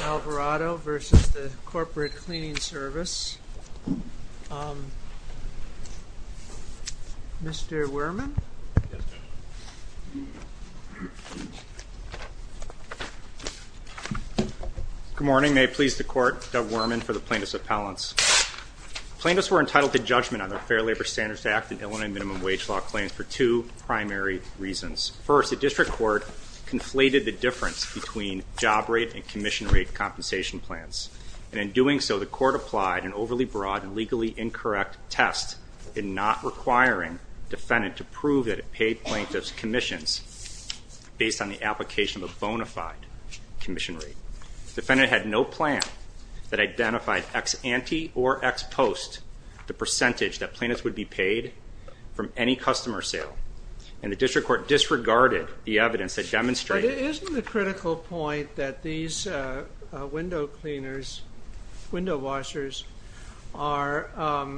Alvarado v. Corporate Cleaning Service Mr. Werman Good morning. May it please the Court, Doug Werman for the Plaintiffs Appellants. Plaintiffs were entitled to judgment on the Fair Labor Standards Act and Illinois Minimum Wage Law claims for two primary reasons. First, the District Court conflated the difference between job rate and commission rate compensation plans. And in doing so, the Court applied an overly broad and legally incorrect test in not requiring defendant to prove that it paid plaintiffs' commissions based on the application of a bona fide commission rate. The defendant had no plan that identified ex ante or ex post the percentage that plaintiffs would be paid from any customer sale, and the District Court disregarded the evidence that demonstrated... But isn't the critical point that these window cleaners, window washers, are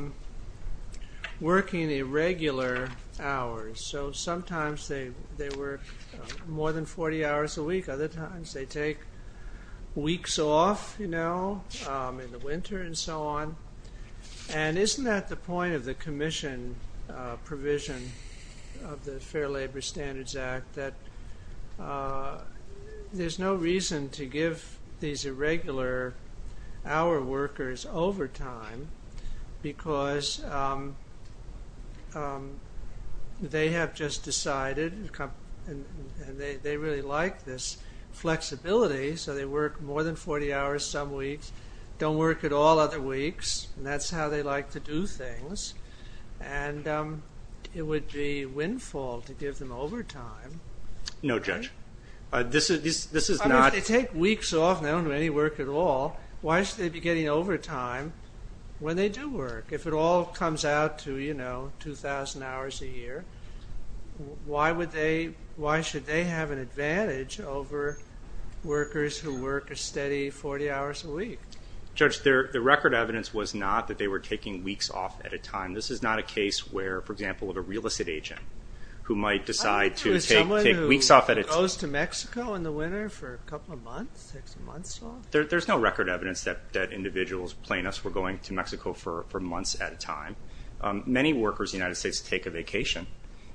working irregular hours? So sometimes they work more than 40 hours a week. Other times they take weeks off in the winter and so on. And isn't that the point of the commission provision of the Fair Labor Standards Act that there's no reason to give these irregular hour workers overtime because they have just decided and they really like this flexibility so they work more than 40 hours some weeks, don't work at all other weeks, and that's how they like to do things. And it would be windfall to give them overtime. No, Judge. If they take weeks off and they don't do any work at all, why should they be getting overtime when they do work? If it all comes out to 2,000 hours a year, why should they have an advantage over workers who work a steady 40 hours a week? Judge, the record evidence was not that they were taking weeks off at a time. Someone who goes to Mexico in the winter for a couple of months, takes months off? There's no record evidence that individuals, plaintiffs, were going to Mexico for months at a time. Many workers in the United States take a vacation.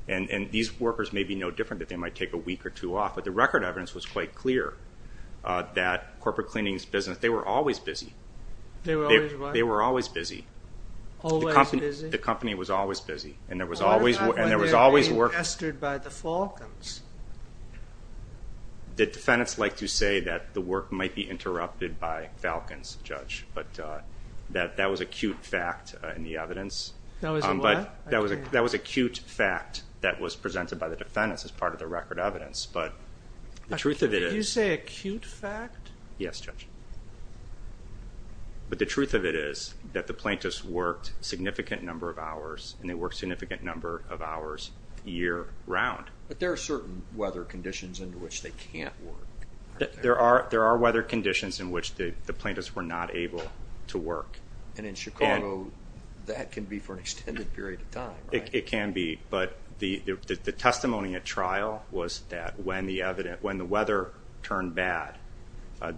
And these workers may be no different, that they might take a week or two off. But the record evidence was quite clear that corporate cleanings business, they were always busy. They were always what? They were always busy. Always busy? The company was always busy. And there was always work. They were not being infested by the falcons. The defendants like to say that the work might be interrupted by falcons, Judge. But that was acute fact in the evidence. That was a what? That was acute fact that was presented by the defendants as part of the record evidence. But the truth of it is... Did you say acute fact? Yes, Judge. But the truth of it is that the plaintiffs worked a significant number of hours and they worked a significant number of hours year round. But there are certain weather conditions in which they can't work. There are weather conditions in which the plaintiffs were not able to work. And in Chicago that can be for an extended period of time, right? It can be. But the testimony at trial was that when the weather turned bad,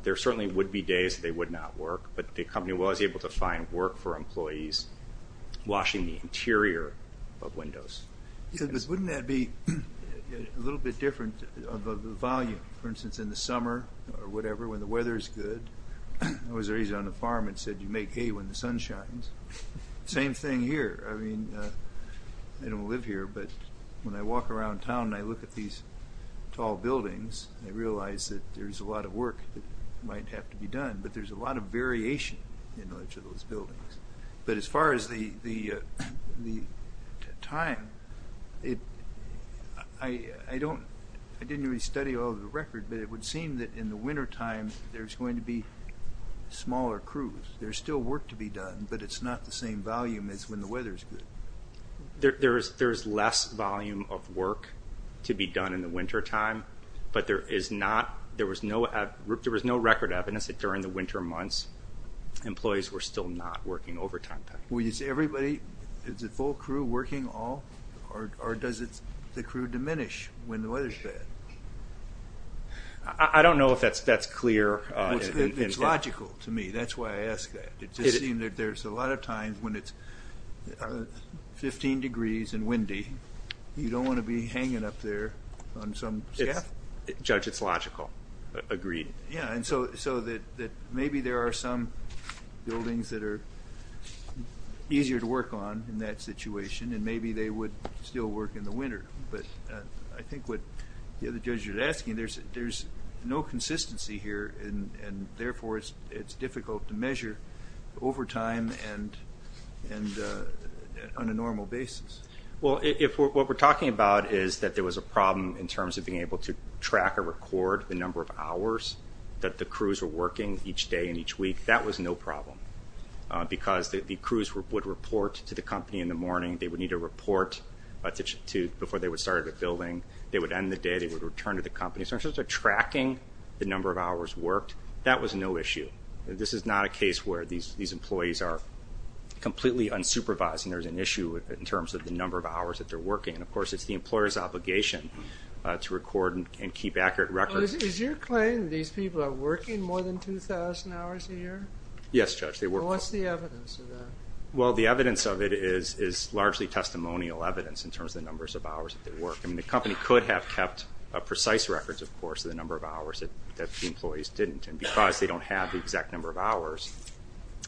there certainly would be days they would not work. But the company was able to find work for employees washing the interior of windows. Wouldn't that be a little bit different of a volume? For instance, in the summer or whatever, when the weather is good, I was raised on a farm and said, you make hay when the sun shines. Same thing here. I mean, I don't live here, but when I walk around town and I look at these tall buildings, I realize that there's a lot of work that might have to be done. But there's a lot of variation in each of those buildings. But as far as the time, I didn't really study all of the record, but it would seem that in the wintertime there's going to be smaller crews. There's still work to be done, but it's not the same volume as when the weather is good. There's less volume of work to be done in the wintertime, but there was no record evidence that during the winter months employees were still not working overtime. Is everybody, is the full crew working all? Or does the crew diminish when the weather is bad? I don't know if that's clear. It's logical to me. That's why I ask that. It just seems that there's a lot of times when it's 15 degrees and windy, you don't want to be hanging up there on some staff. Judge, it's logical. Agreed. So maybe there are some buildings that are easier to work on in that situation, and maybe they would still work in the winter. But I think what the other judge was asking, there's no consistency here, and therefore it's difficult to measure overtime on a normal basis. Well, what we're talking about is that there was a problem in terms of being able to track or record the number of hours that the crews were working each day and each week. That was no problem, because the crews would report to the company in the morning. They would need a report before they would start a building. They would end the day. They would return to the company. So in terms of completely unsupervised, and there's an issue in terms of the number of hours that they're working. Of course, it's the employer's obligation to record and keep accurate records. Is your claim that these people are working more than 2,000 hours a year? Yes, Judge, they work more. What's the evidence of that? Well, the evidence of it is largely testimonial evidence in terms of the numbers of hours that they work. I mean, the company could have kept precise records, of course, of the number of hours that the employees didn't. And because they don't have the exact number of hours,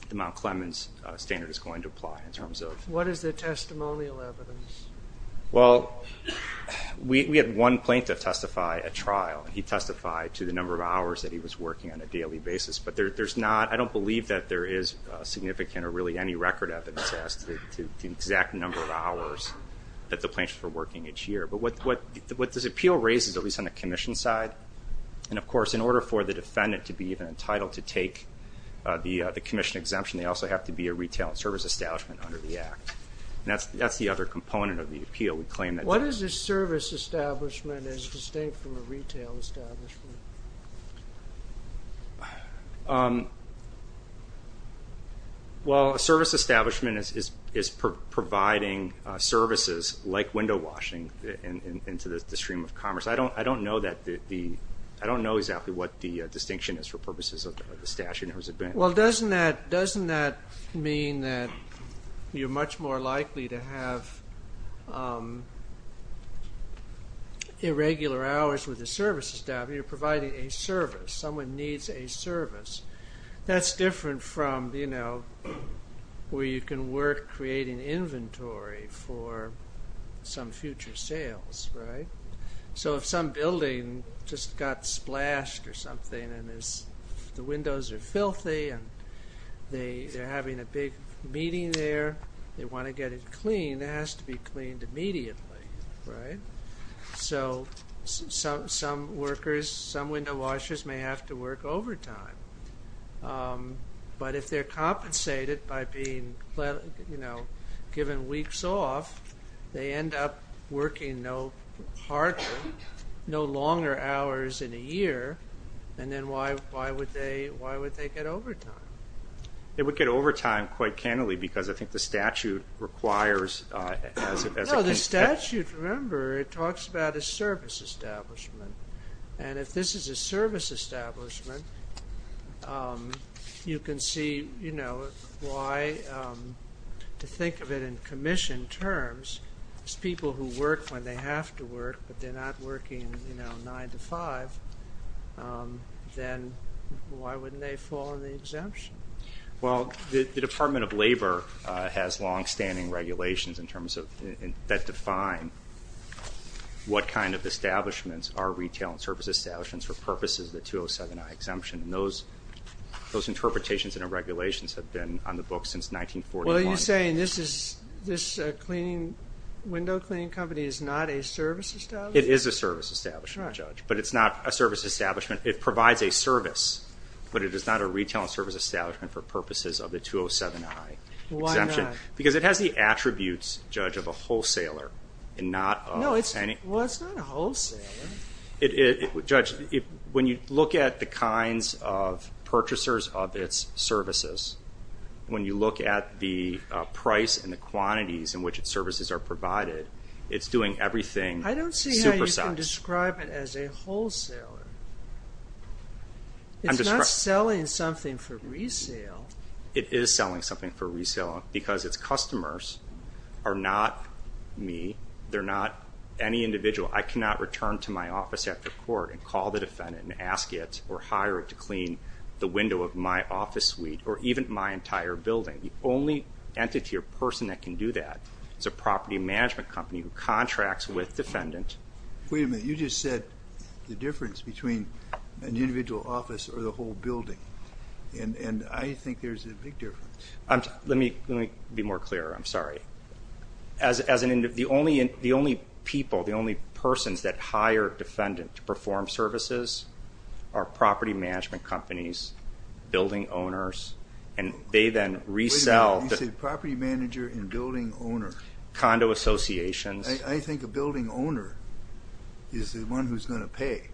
the Mount Clemens standard is going to apply in terms of... What is the testimonial evidence? Well, we had one plaintiff testify at trial, and he testified to the number of hours that he was working on a daily basis. But there's not, I don't believe that there is significant or really any record evidence as to the exact number of hours that the plaintiffs were working each year. But what this appeal raises, at least on the commission side, and of course in order for the defendant to be even entitled to take the commission exemption, they also have to be a retail and service establishment under the Act. And that's the other component of the appeal. We claim that... What is a service establishment and is it distinct from a retail establishment? Well, a service establishment is providing services like window washing into the stream of commerce. I don't know exactly what the distinction is for purposes of the statute. Well, doesn't that mean that you're much more likely to have irregular hours with the service establishment? You're providing a service. Someone needs a service. That's different from, you know, where you can work creating inventory for some future sales, right? So if some building just got splashed or something and the windows are filthy and they're having a big meeting there, they want to get it clean, it has to be cleaned immediately, right? So some workers, some window washers may have to work overtime. But if they're compensated by being, you know, given weeks off, they end up working no longer hours in a year and then why would they get overtime? It would get overtime quite candidly because I think the statute requires... No, the statute, remember, it talks about a service establishment. And if this is a service establishment, you can see, you know, why to think of it in commission terms as people who work when they have to work, but they're not working, you know, 9 to 5, then why wouldn't they fall under the exemption? Well, the Department of Labor has longstanding regulations in terms of, that define what kind of establishments are retail and service establishments for purposes of the 207I exemption. And those interpretations and regulations have been on the books since 1941. Well, are you saying this window cleaning company is not a service establishment? It is a service establishment, Judge, but it's not a service establishment. It provides a service, but it is not a retail and service establishment for purposes of the 207I exemption. Why not? Because it has the attributes, Judge, of a wholesaler and not... No, it's not a wholesaler. Judge, when you look at the kinds of purchasers of its services, when you look at the price and the quantities in which its services are provided, it's doing everything supersized. I don't see how you can describe it as a wholesaler. It's not selling something for resale. It is selling something for resale because its customers are not me. They're not any individual. I cannot return to my office after court and call the defendant and ask it or hire it to clean the window of my office suite or even my entire building. The only entity or person that can do that is a property management company who contracts with defendant. Wait a minute. You just said the difference between an individual office or the whole building, and I think there's a big difference. Let me be more clear. I'm sorry. The only people, the only persons that hire defendant to perform services are property management companies, building owners, and they then resell... Wait a minute. You said property manager and building owner. Condo associations. I think a building owner is the one who's going to pay.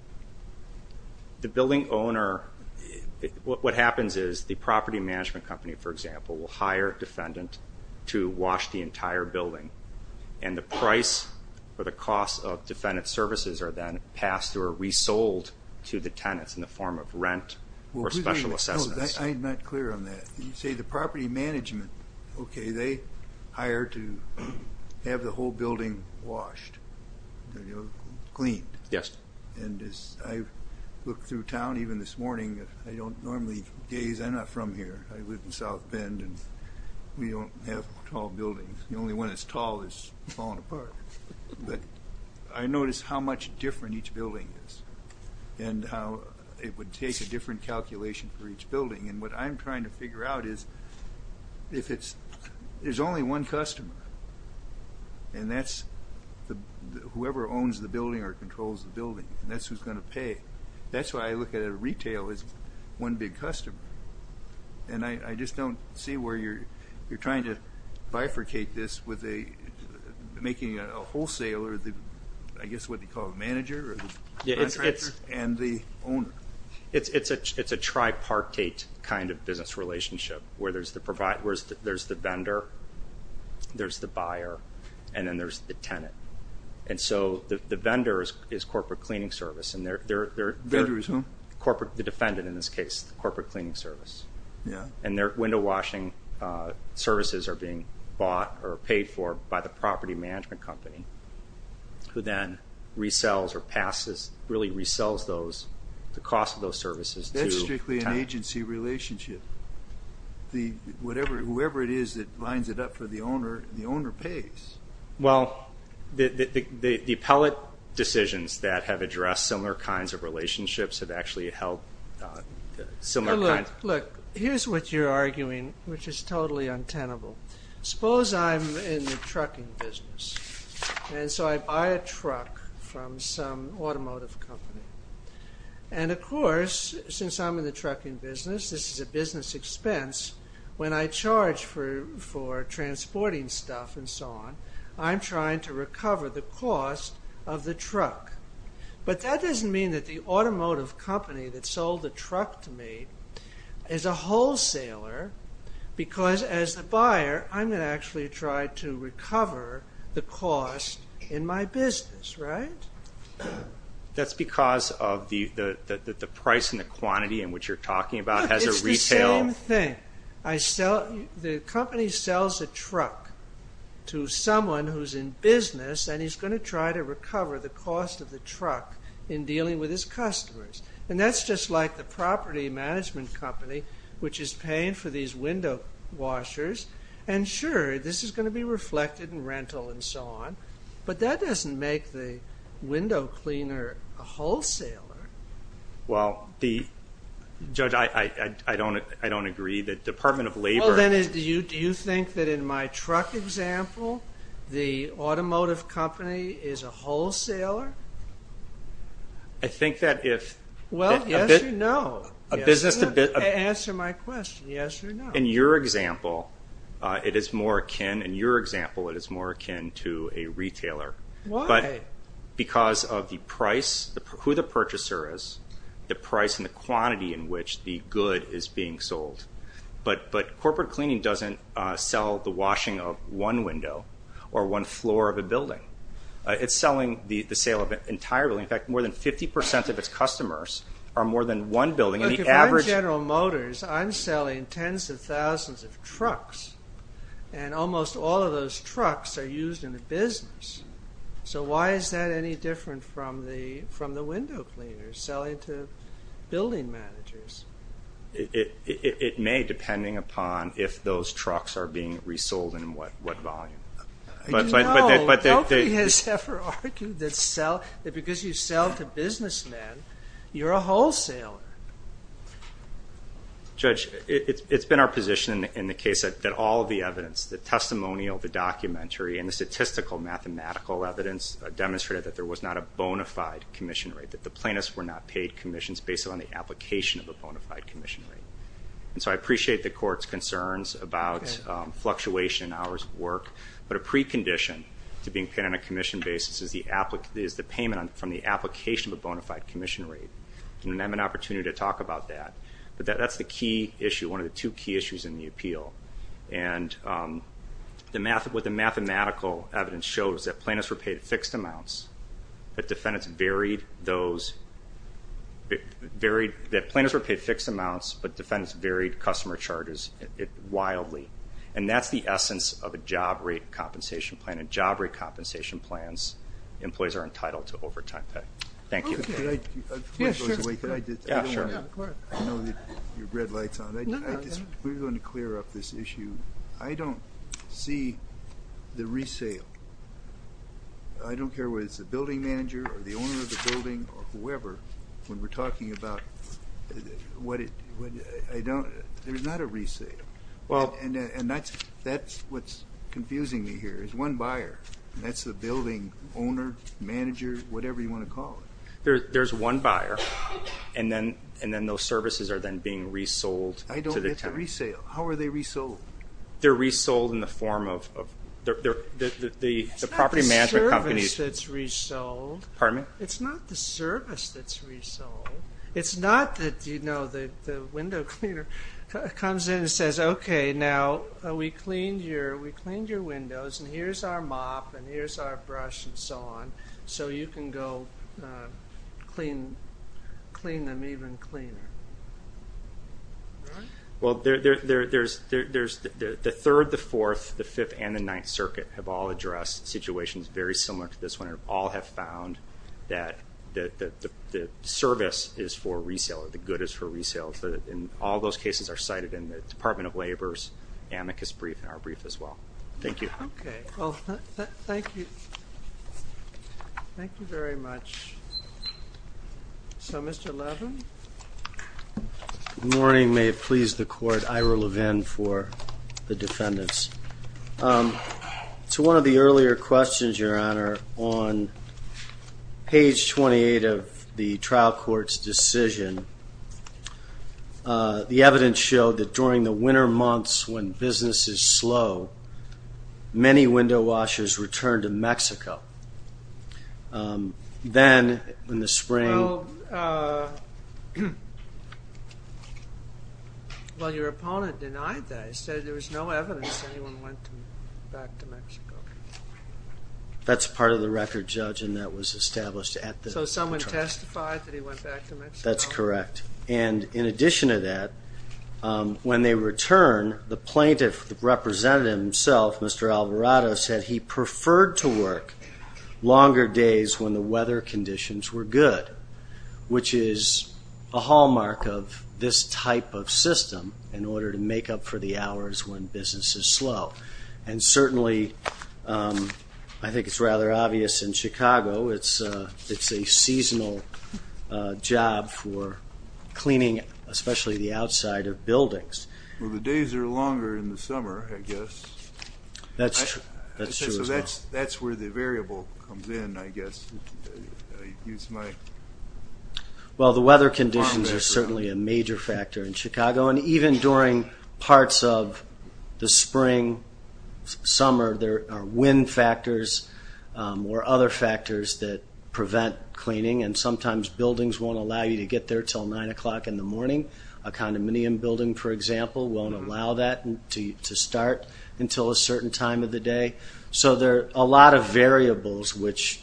The building owner, what happens is the property management company, for example, will hire a defendant to wash the entire building, and the price or the cost of defendant's services are then passed or resold to the tenants in the form of rent or special assistance. No, I'm not clear on that. You say the property management, okay, they hire to have the whole building washed, cleaned. Yes. And as I look through town, even this morning, I don't normally gaze. I'm not from here. I live in South Bend and we don't have tall buildings. The only one that's tall is falling apart. But I notice how much different each building is and how it would take a different calculation for each building. And what I'm trying to figure out is if it's... There's only one customer and that's whoever owns the building or controls the building, and that's who's going to pay. That's why I look at a retail as one big customer. And I just don't see where you're trying to bifurcate this with making a wholesaler, I guess what they call a manager, and the owner. It's a tripartite kind of business relationship where there's the vendor, there's the buyer, and then there's the tenant. And so the vendor is corporate cleaning service. Vendor is who? The defendant in this case, the corporate cleaning service. And their window washing services are being bought or paid for by the property management company who then resells or really resells the cost of those services. That's strictly an agency relationship. Whoever it is that lines it up for the owner, the owner pays. Well, the appellate decisions that have addressed similar kinds of relationships have actually held similar... Look, here's what you're arguing which is totally untenable. Suppose I'm in the trucking business. And so I buy a truck from some automotive company. And of course, since I'm in the trucking business, this is a business expense, when I charge for transporting stuff and so on, I'm trying to recover the cost of the truck. But that doesn't mean that the automotive company that sold the truck to me is a wholesaler because as the buyer, I'm going to actually try to recover the cost in my Look, it's the same thing. The company sells a truck to someone who's in business and he's going to try to recover the cost of the truck in dealing with his customers. And that's just like the property management company which is paying for these window washers. And sure, this is going to be reflected in rental and so on. But that doesn't make the window cleaner a wholesaler. Well, the... Judge, I don't agree. The Department of Labor... Do you think that in my truck example the automotive company is a wholesaler? I think that if... Well, yes or no. Answer my question, yes or no. In your example, it is more akin to a retailer. Why? Because of the price, who the purchaser is, the price and the quantity in which the good is being sold. But corporate cleaning doesn't sell the washing of one window or one floor of a building. It's selling the sale of an entire building. In fact, more than thousands of trucks. And almost all of those trucks are used in the business. So why is that any different from the window cleaners selling to building managers? It may, depending upon if those trucks are being resold and what volume. Nobody has ever argued that because you sell to businessmen you're a wholesaler. Judge, it's been our position in the case that all of the evidence, the testimonial, the documentary and the statistical mathematical evidence demonstrated that there was not a bona fide commission rate, that the plaintiffs were not paid commissions based on the application of a bona fide commission rate. And so I appreciate the court's concerns about fluctuation in hours of work, but a opportunity to talk about that. But that's the key issue, one of the two key issues in the appeal. And what the mathematical evidence shows is that plaintiffs were paid fixed amounts, that defendants varied those, that plaintiffs were paid fixed amounts, but defendants varied customer charges wildly. And that's the essence of a job rate compensation plan. In job rate compensation, I know you've got your red lights on. I just want to clear up this issue. I don't see the resale. I don't care whether it's the building manager or the owner of the building or whoever, when we're talking about there's not a resale. And that's what's confusing me here. There's one buyer, and that's the building owner, manager, whatever you want to call it. There's one buyer, and then those services are then being resold. I don't get the resale. How are they resold? They're resold in the form of the property management company. It's not the service that's resold. Pardon me? It's not the service that's resold. It's not that the window cleaner comes in and says, okay, now we cleaned your windows, and here's our mop, and here's our brush, and so on. So you can go clean them even cleaner. Well, there's the 3rd, the 4th, the 5th, and the 9th Circuit have all addressed situations very similar to this one, and all have found that the service is for resale or the good is for resale. And all those cases are cited in the Department of Labor's amicus brief and our brief as well. Thank you. Thank you. Thank you very much. So Mr. Levin? Good morning. May it please the Court. Ira Levin for the defendants. To one of the earlier questions, Your Honor, on page 28 of the trial court's decision, the evidence showed that during the winter months when business is slow, many window washers return to Mexico. Then, in the spring... Well, your opponent denied that. He said there was no evidence anyone went back to Mexico. That's part of the record, Judge, and that was established at the trial. So someone testified that he went back to Mexico? That's correct. And in addition to that, when they return, the plaintiff, the representative himself, Mr. Alvarado, said he preferred to work longer days when the weather conditions were good, which is a hallmark of this type of system in order to make up for the hours when business is slow. And certainly I think it's rather obvious in Chicago, it's a seasonal job for cleaning, especially the outside of buildings. Well, the days are longer in the summer, I guess. That's true as well. So that's where the variable comes in, I guess. Well, the weather conditions are certainly a major factor in Chicago, and even during parts of the spring, summer, there are wind factors or other factors that prevent cleaning, and sometimes buildings won't allow you to get there until 9 o'clock in the morning. A condominium building, for example, won't allow that to start until a certain time of the day. So there are a lot of variables which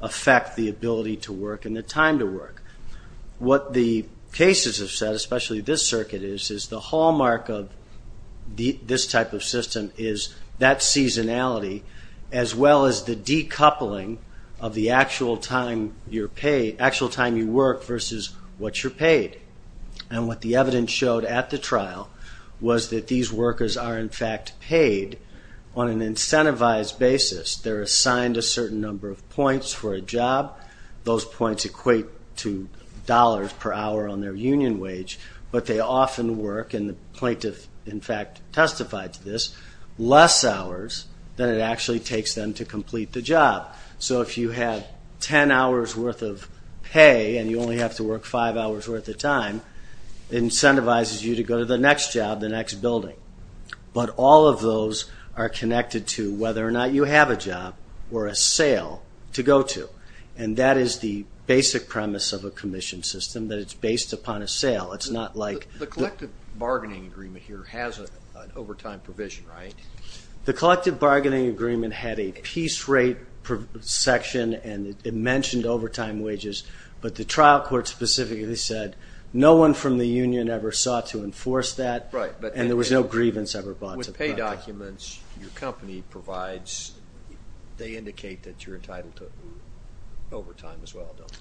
affect the ability to work and the time to work. What the cases have said, especially this circuit, is the hallmark of this type of system is that seasonality as well as the decoupling of the actual time you work versus what you're paid. And what the evidence showed at the trial was that these workers are in fact paid on an incentivized basis. They're assigned a certain number of points for a job. Those points equate to dollars per hour on their union wage, but they often work, and the plaintiff in fact testified to this, less hours than it actually takes them to complete the job. So if you have 10 hours worth of pay and you only have to work 5 hours worth of time, it incentivizes you to go to the next job, the next building. But all of those are connected to whether or not you have a job or a sale to go to. And that is the basic premise of a commission system, that it's based upon a sale. It's not like... The collective bargaining agreement here has an overtime provision, right? The collective bargaining agreement had a piece rate section and it mentioned overtime wages, but the trial court specifically said no one from the union ever sought to enforce that, and there was no grievance ever brought to that. With pay documents, your company provides they indicate that you're entitled to overtime as well, don't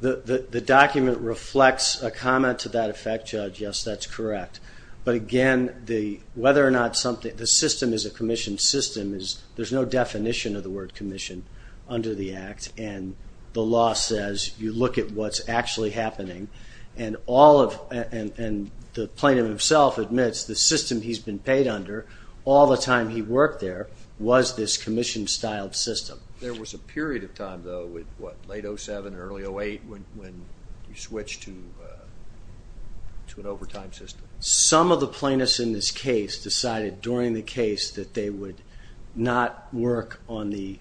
they? The document reflects a comment to that effect, Judge. Yes, that's correct. But again, whether or not the system is a commission system, there's no definition of the word commission under the Act, and the law says you look at what's actually happening, and the plaintiff himself admits the system he's been paid under all the time he worked there was this commission-styled system. There was a period of time, though, late 07, early 08, when you switched to an overtime system. Some of the plaintiffs in this case decided during the case that they would not work on the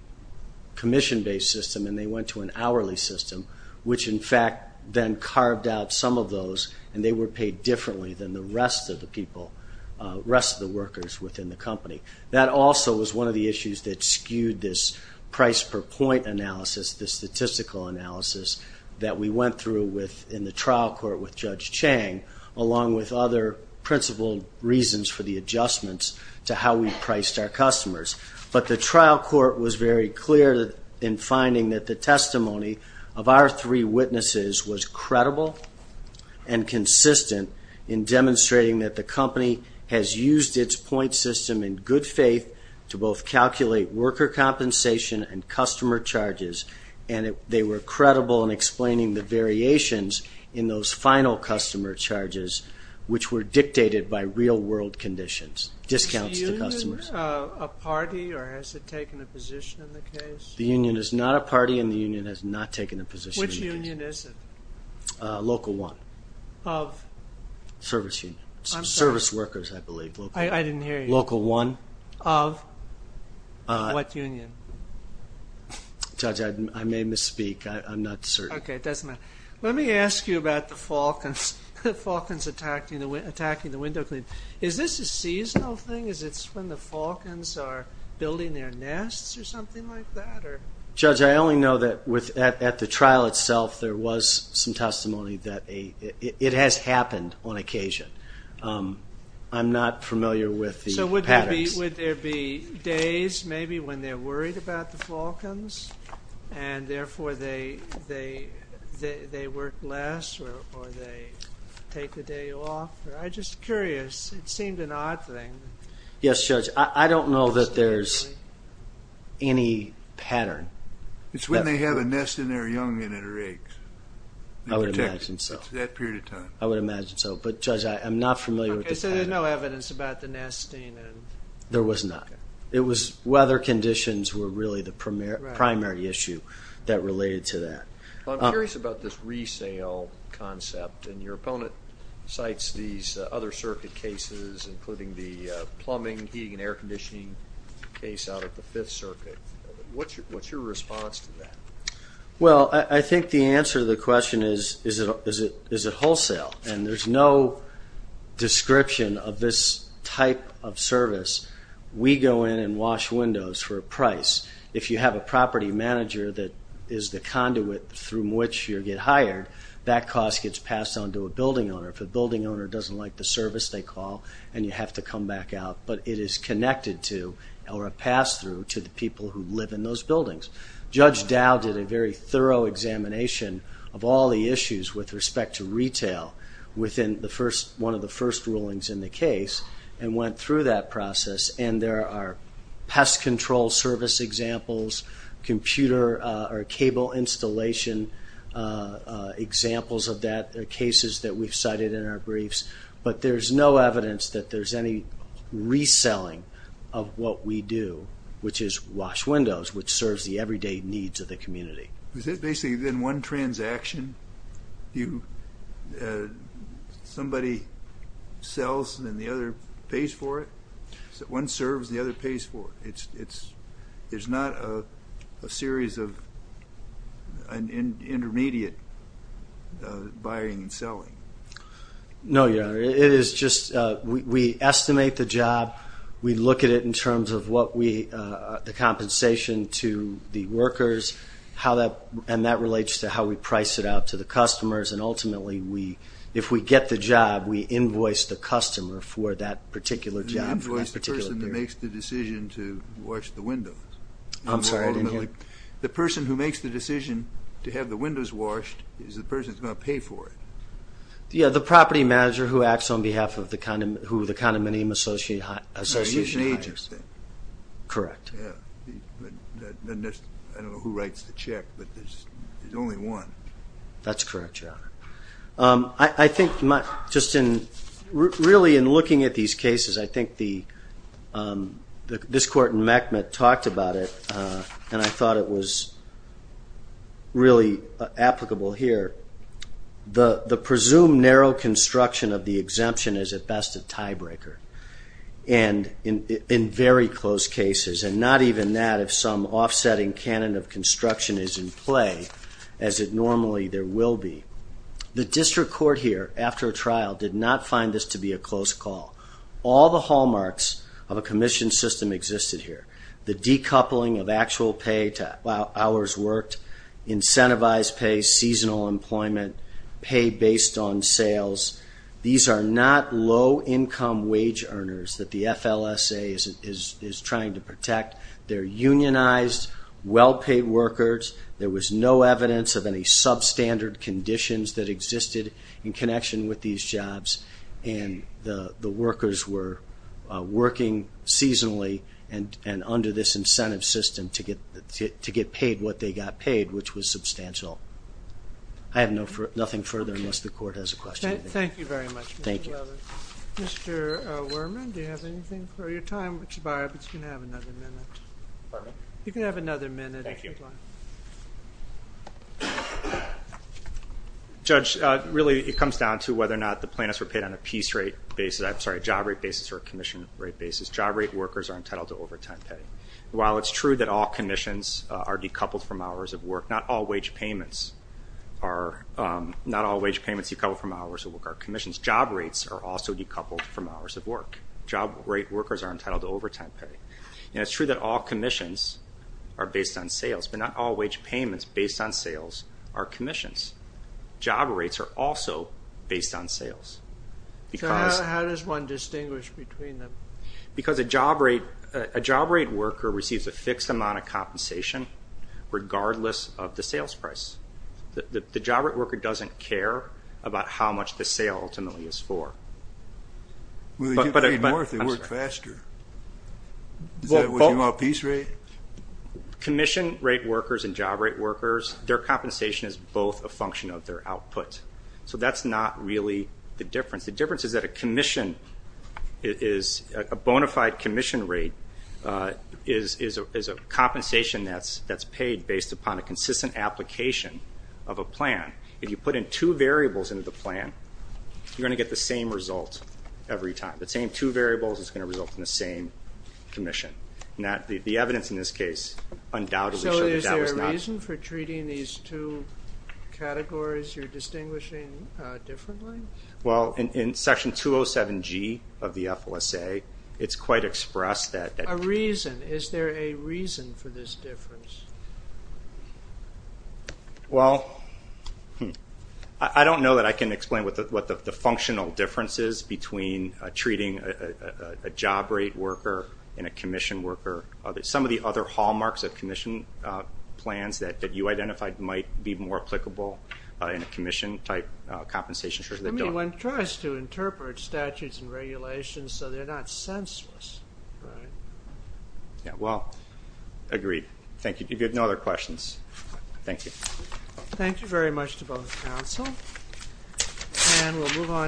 commission-based system, and they went to an hourly system, which in fact then carved out some of those, and they were paid differently than the rest of the workers within the company. That also was one of the issues that skewed this price-per-point analysis, this statistical analysis that we went through in the trial court with Judge Chang, along with other principled reasons for the adjustments to how we priced our customers. But the trial court was very clear in finding that the testimony of our three witnesses was credible and consistent in demonstrating that the company has used its point system in good faith to both calculate worker compensation and customer charges, and they were credible in explaining the variations in those final customer charges, which were dictated by real-world conditions. Is the union a party, or has it taken a position in the case? The union is not a party, and the union has not taken a position in the case. Which union is it? Local 1. Of? Service union. Service workers, I believe. I didn't hear you. Local 1. Of? What union? Judge, I may misspeak. I'm not certain. Okay, it doesn't matter. Let me ask you about the Falcons attacking the window cleaners. Is this a seasonal thing? Is it when the Falcons are building their nests or something like that? Judge, I only know that at the trial itself there was some testimony that it has happened on occasion. I'm not familiar with the patterns. So would there be days maybe when they're worried about the Falcons, and therefore they work less or they take the day off? I'm just curious. It seemed an odd thing. Yes, Judge. I don't know that there's any pattern. It's when they have a nest and they're young and it erates. I would imagine so. It's that period of time. I would imagine so, but Judge, I'm not familiar with the pattern. Okay, so there's no evidence about the nesting? There was not. Weather conditions were really the primary issue that related to that. I'm curious about this resale concept, and your opponent cites these other circuit cases including the plumbing, heating and air conditioning case out of the Fifth Circuit. What's your response to that? Well, I think the answer to the question is, is it wholesale? And there's no description of this type of service. We go in and wash windows for a price. If you have a property manager that is the conduit through which you get hired, that cost gets passed on to a building owner. If a building owner doesn't like the service they call, and you have to come back out, but it is connected to or a pass-through to the people who live in those buildings. Judge Dow did a very thorough examination of all the issues with respect to retail within one of the first rulings in the case and went through that process, and there are pest control service examples, computer or cable installation examples of that, cases that we've cited in our briefs, but there's no evidence that there's any reselling of what we do, which is wash windows, which serves the everyday needs of the community. Is it basically then one transaction? Somebody sells and the other pays for it? One serves and the other pays for it? There's not a series of intermediate buying and selling? No, Your Honor. We estimate the job. We look at it in terms of the compensation to the workers, and that relates to how we price it out to the customers, and ultimately if we get the job, we invoice the customer for that particular job. You invoice the person who makes the decision to wash the windows? I'm sorry, I didn't hear. The person who makes the decision to have the windows washed is the person who's going to pay for it? Yeah, the property manager who acts on behalf of the condominium association. He's an agent. Correct. I don't know who writes the check, but there's only one. That's correct, Your Honor. I think just in looking at these cases, I think this court in Meckman talked about it, and I thought it was really applicable here. The presumed narrow construction of the exemption is at best a tiebreaker in very close cases, and not even that if some offsetting canon of construction is in play as it normally there will be. The district court here, after a trial, did not find this to be a to hours worked, incentivized pay, seasonal employment, pay based on sales. These are not low-income wage earners that the FLSA is trying to protect. They're unionized, well-paid workers. There was no evidence of any substandard conditions that existed in connection with these jobs, and the workers were paid what they got paid, which was substantial. I have nothing further unless the court has a question. Thank you very much, Mr. Lovett. Mr. Werman, do you have anything for your time? Mr. Barabas, you can have another minute. Judge, really it comes down to whether or not the plaintiffs were paid on a job rate basis or commission rate basis. While it's true that all commissions are decoupled from hours of work, not all wage payments are decoupled from hours of work. Job rates are also decoupled from hours of work. Job rate workers are entitled to overtime pay. It's true that all commissions are based on sales, but not all wage payments based on sales are commissions. Job rates are also based on sales. So how does one distinguish between them? Because a job rate worker receives a fixed amount of compensation regardless of the sales price. The job rate worker doesn't care about how much the sale ultimately is for. Well, they get paid more if they work faster. Is that what you mean by piece rate? Commission rate workers and job rate workers, their compensation is both a function of their output. So that's not really the difference. The difference is that a commission is a bona fide commission rate is a compensation that's paid based upon a consistent application of a plan. If you put in two variables into the plan, you're going to get the same result every time. The same two variables is going to result in the same commission. The evidence in this case undoubtedly shows that that was not... Well, in Section 207G of the FLSA, it's quite expressed that... A reason. Is there a reason for this difference? Well, I don't know that I can explain what the functional difference is between treating a job rate worker and a commission worker. Some of the other hallmarks of commission plans that you identified might be more applicable in a commission type compensation. I mean, one tries to interpret statutes and regulations, so they're not senseless. Yeah, well, agreed. Thank you. If you have no other questions, thank you. Thank you very much to both counsel, and we'll move on.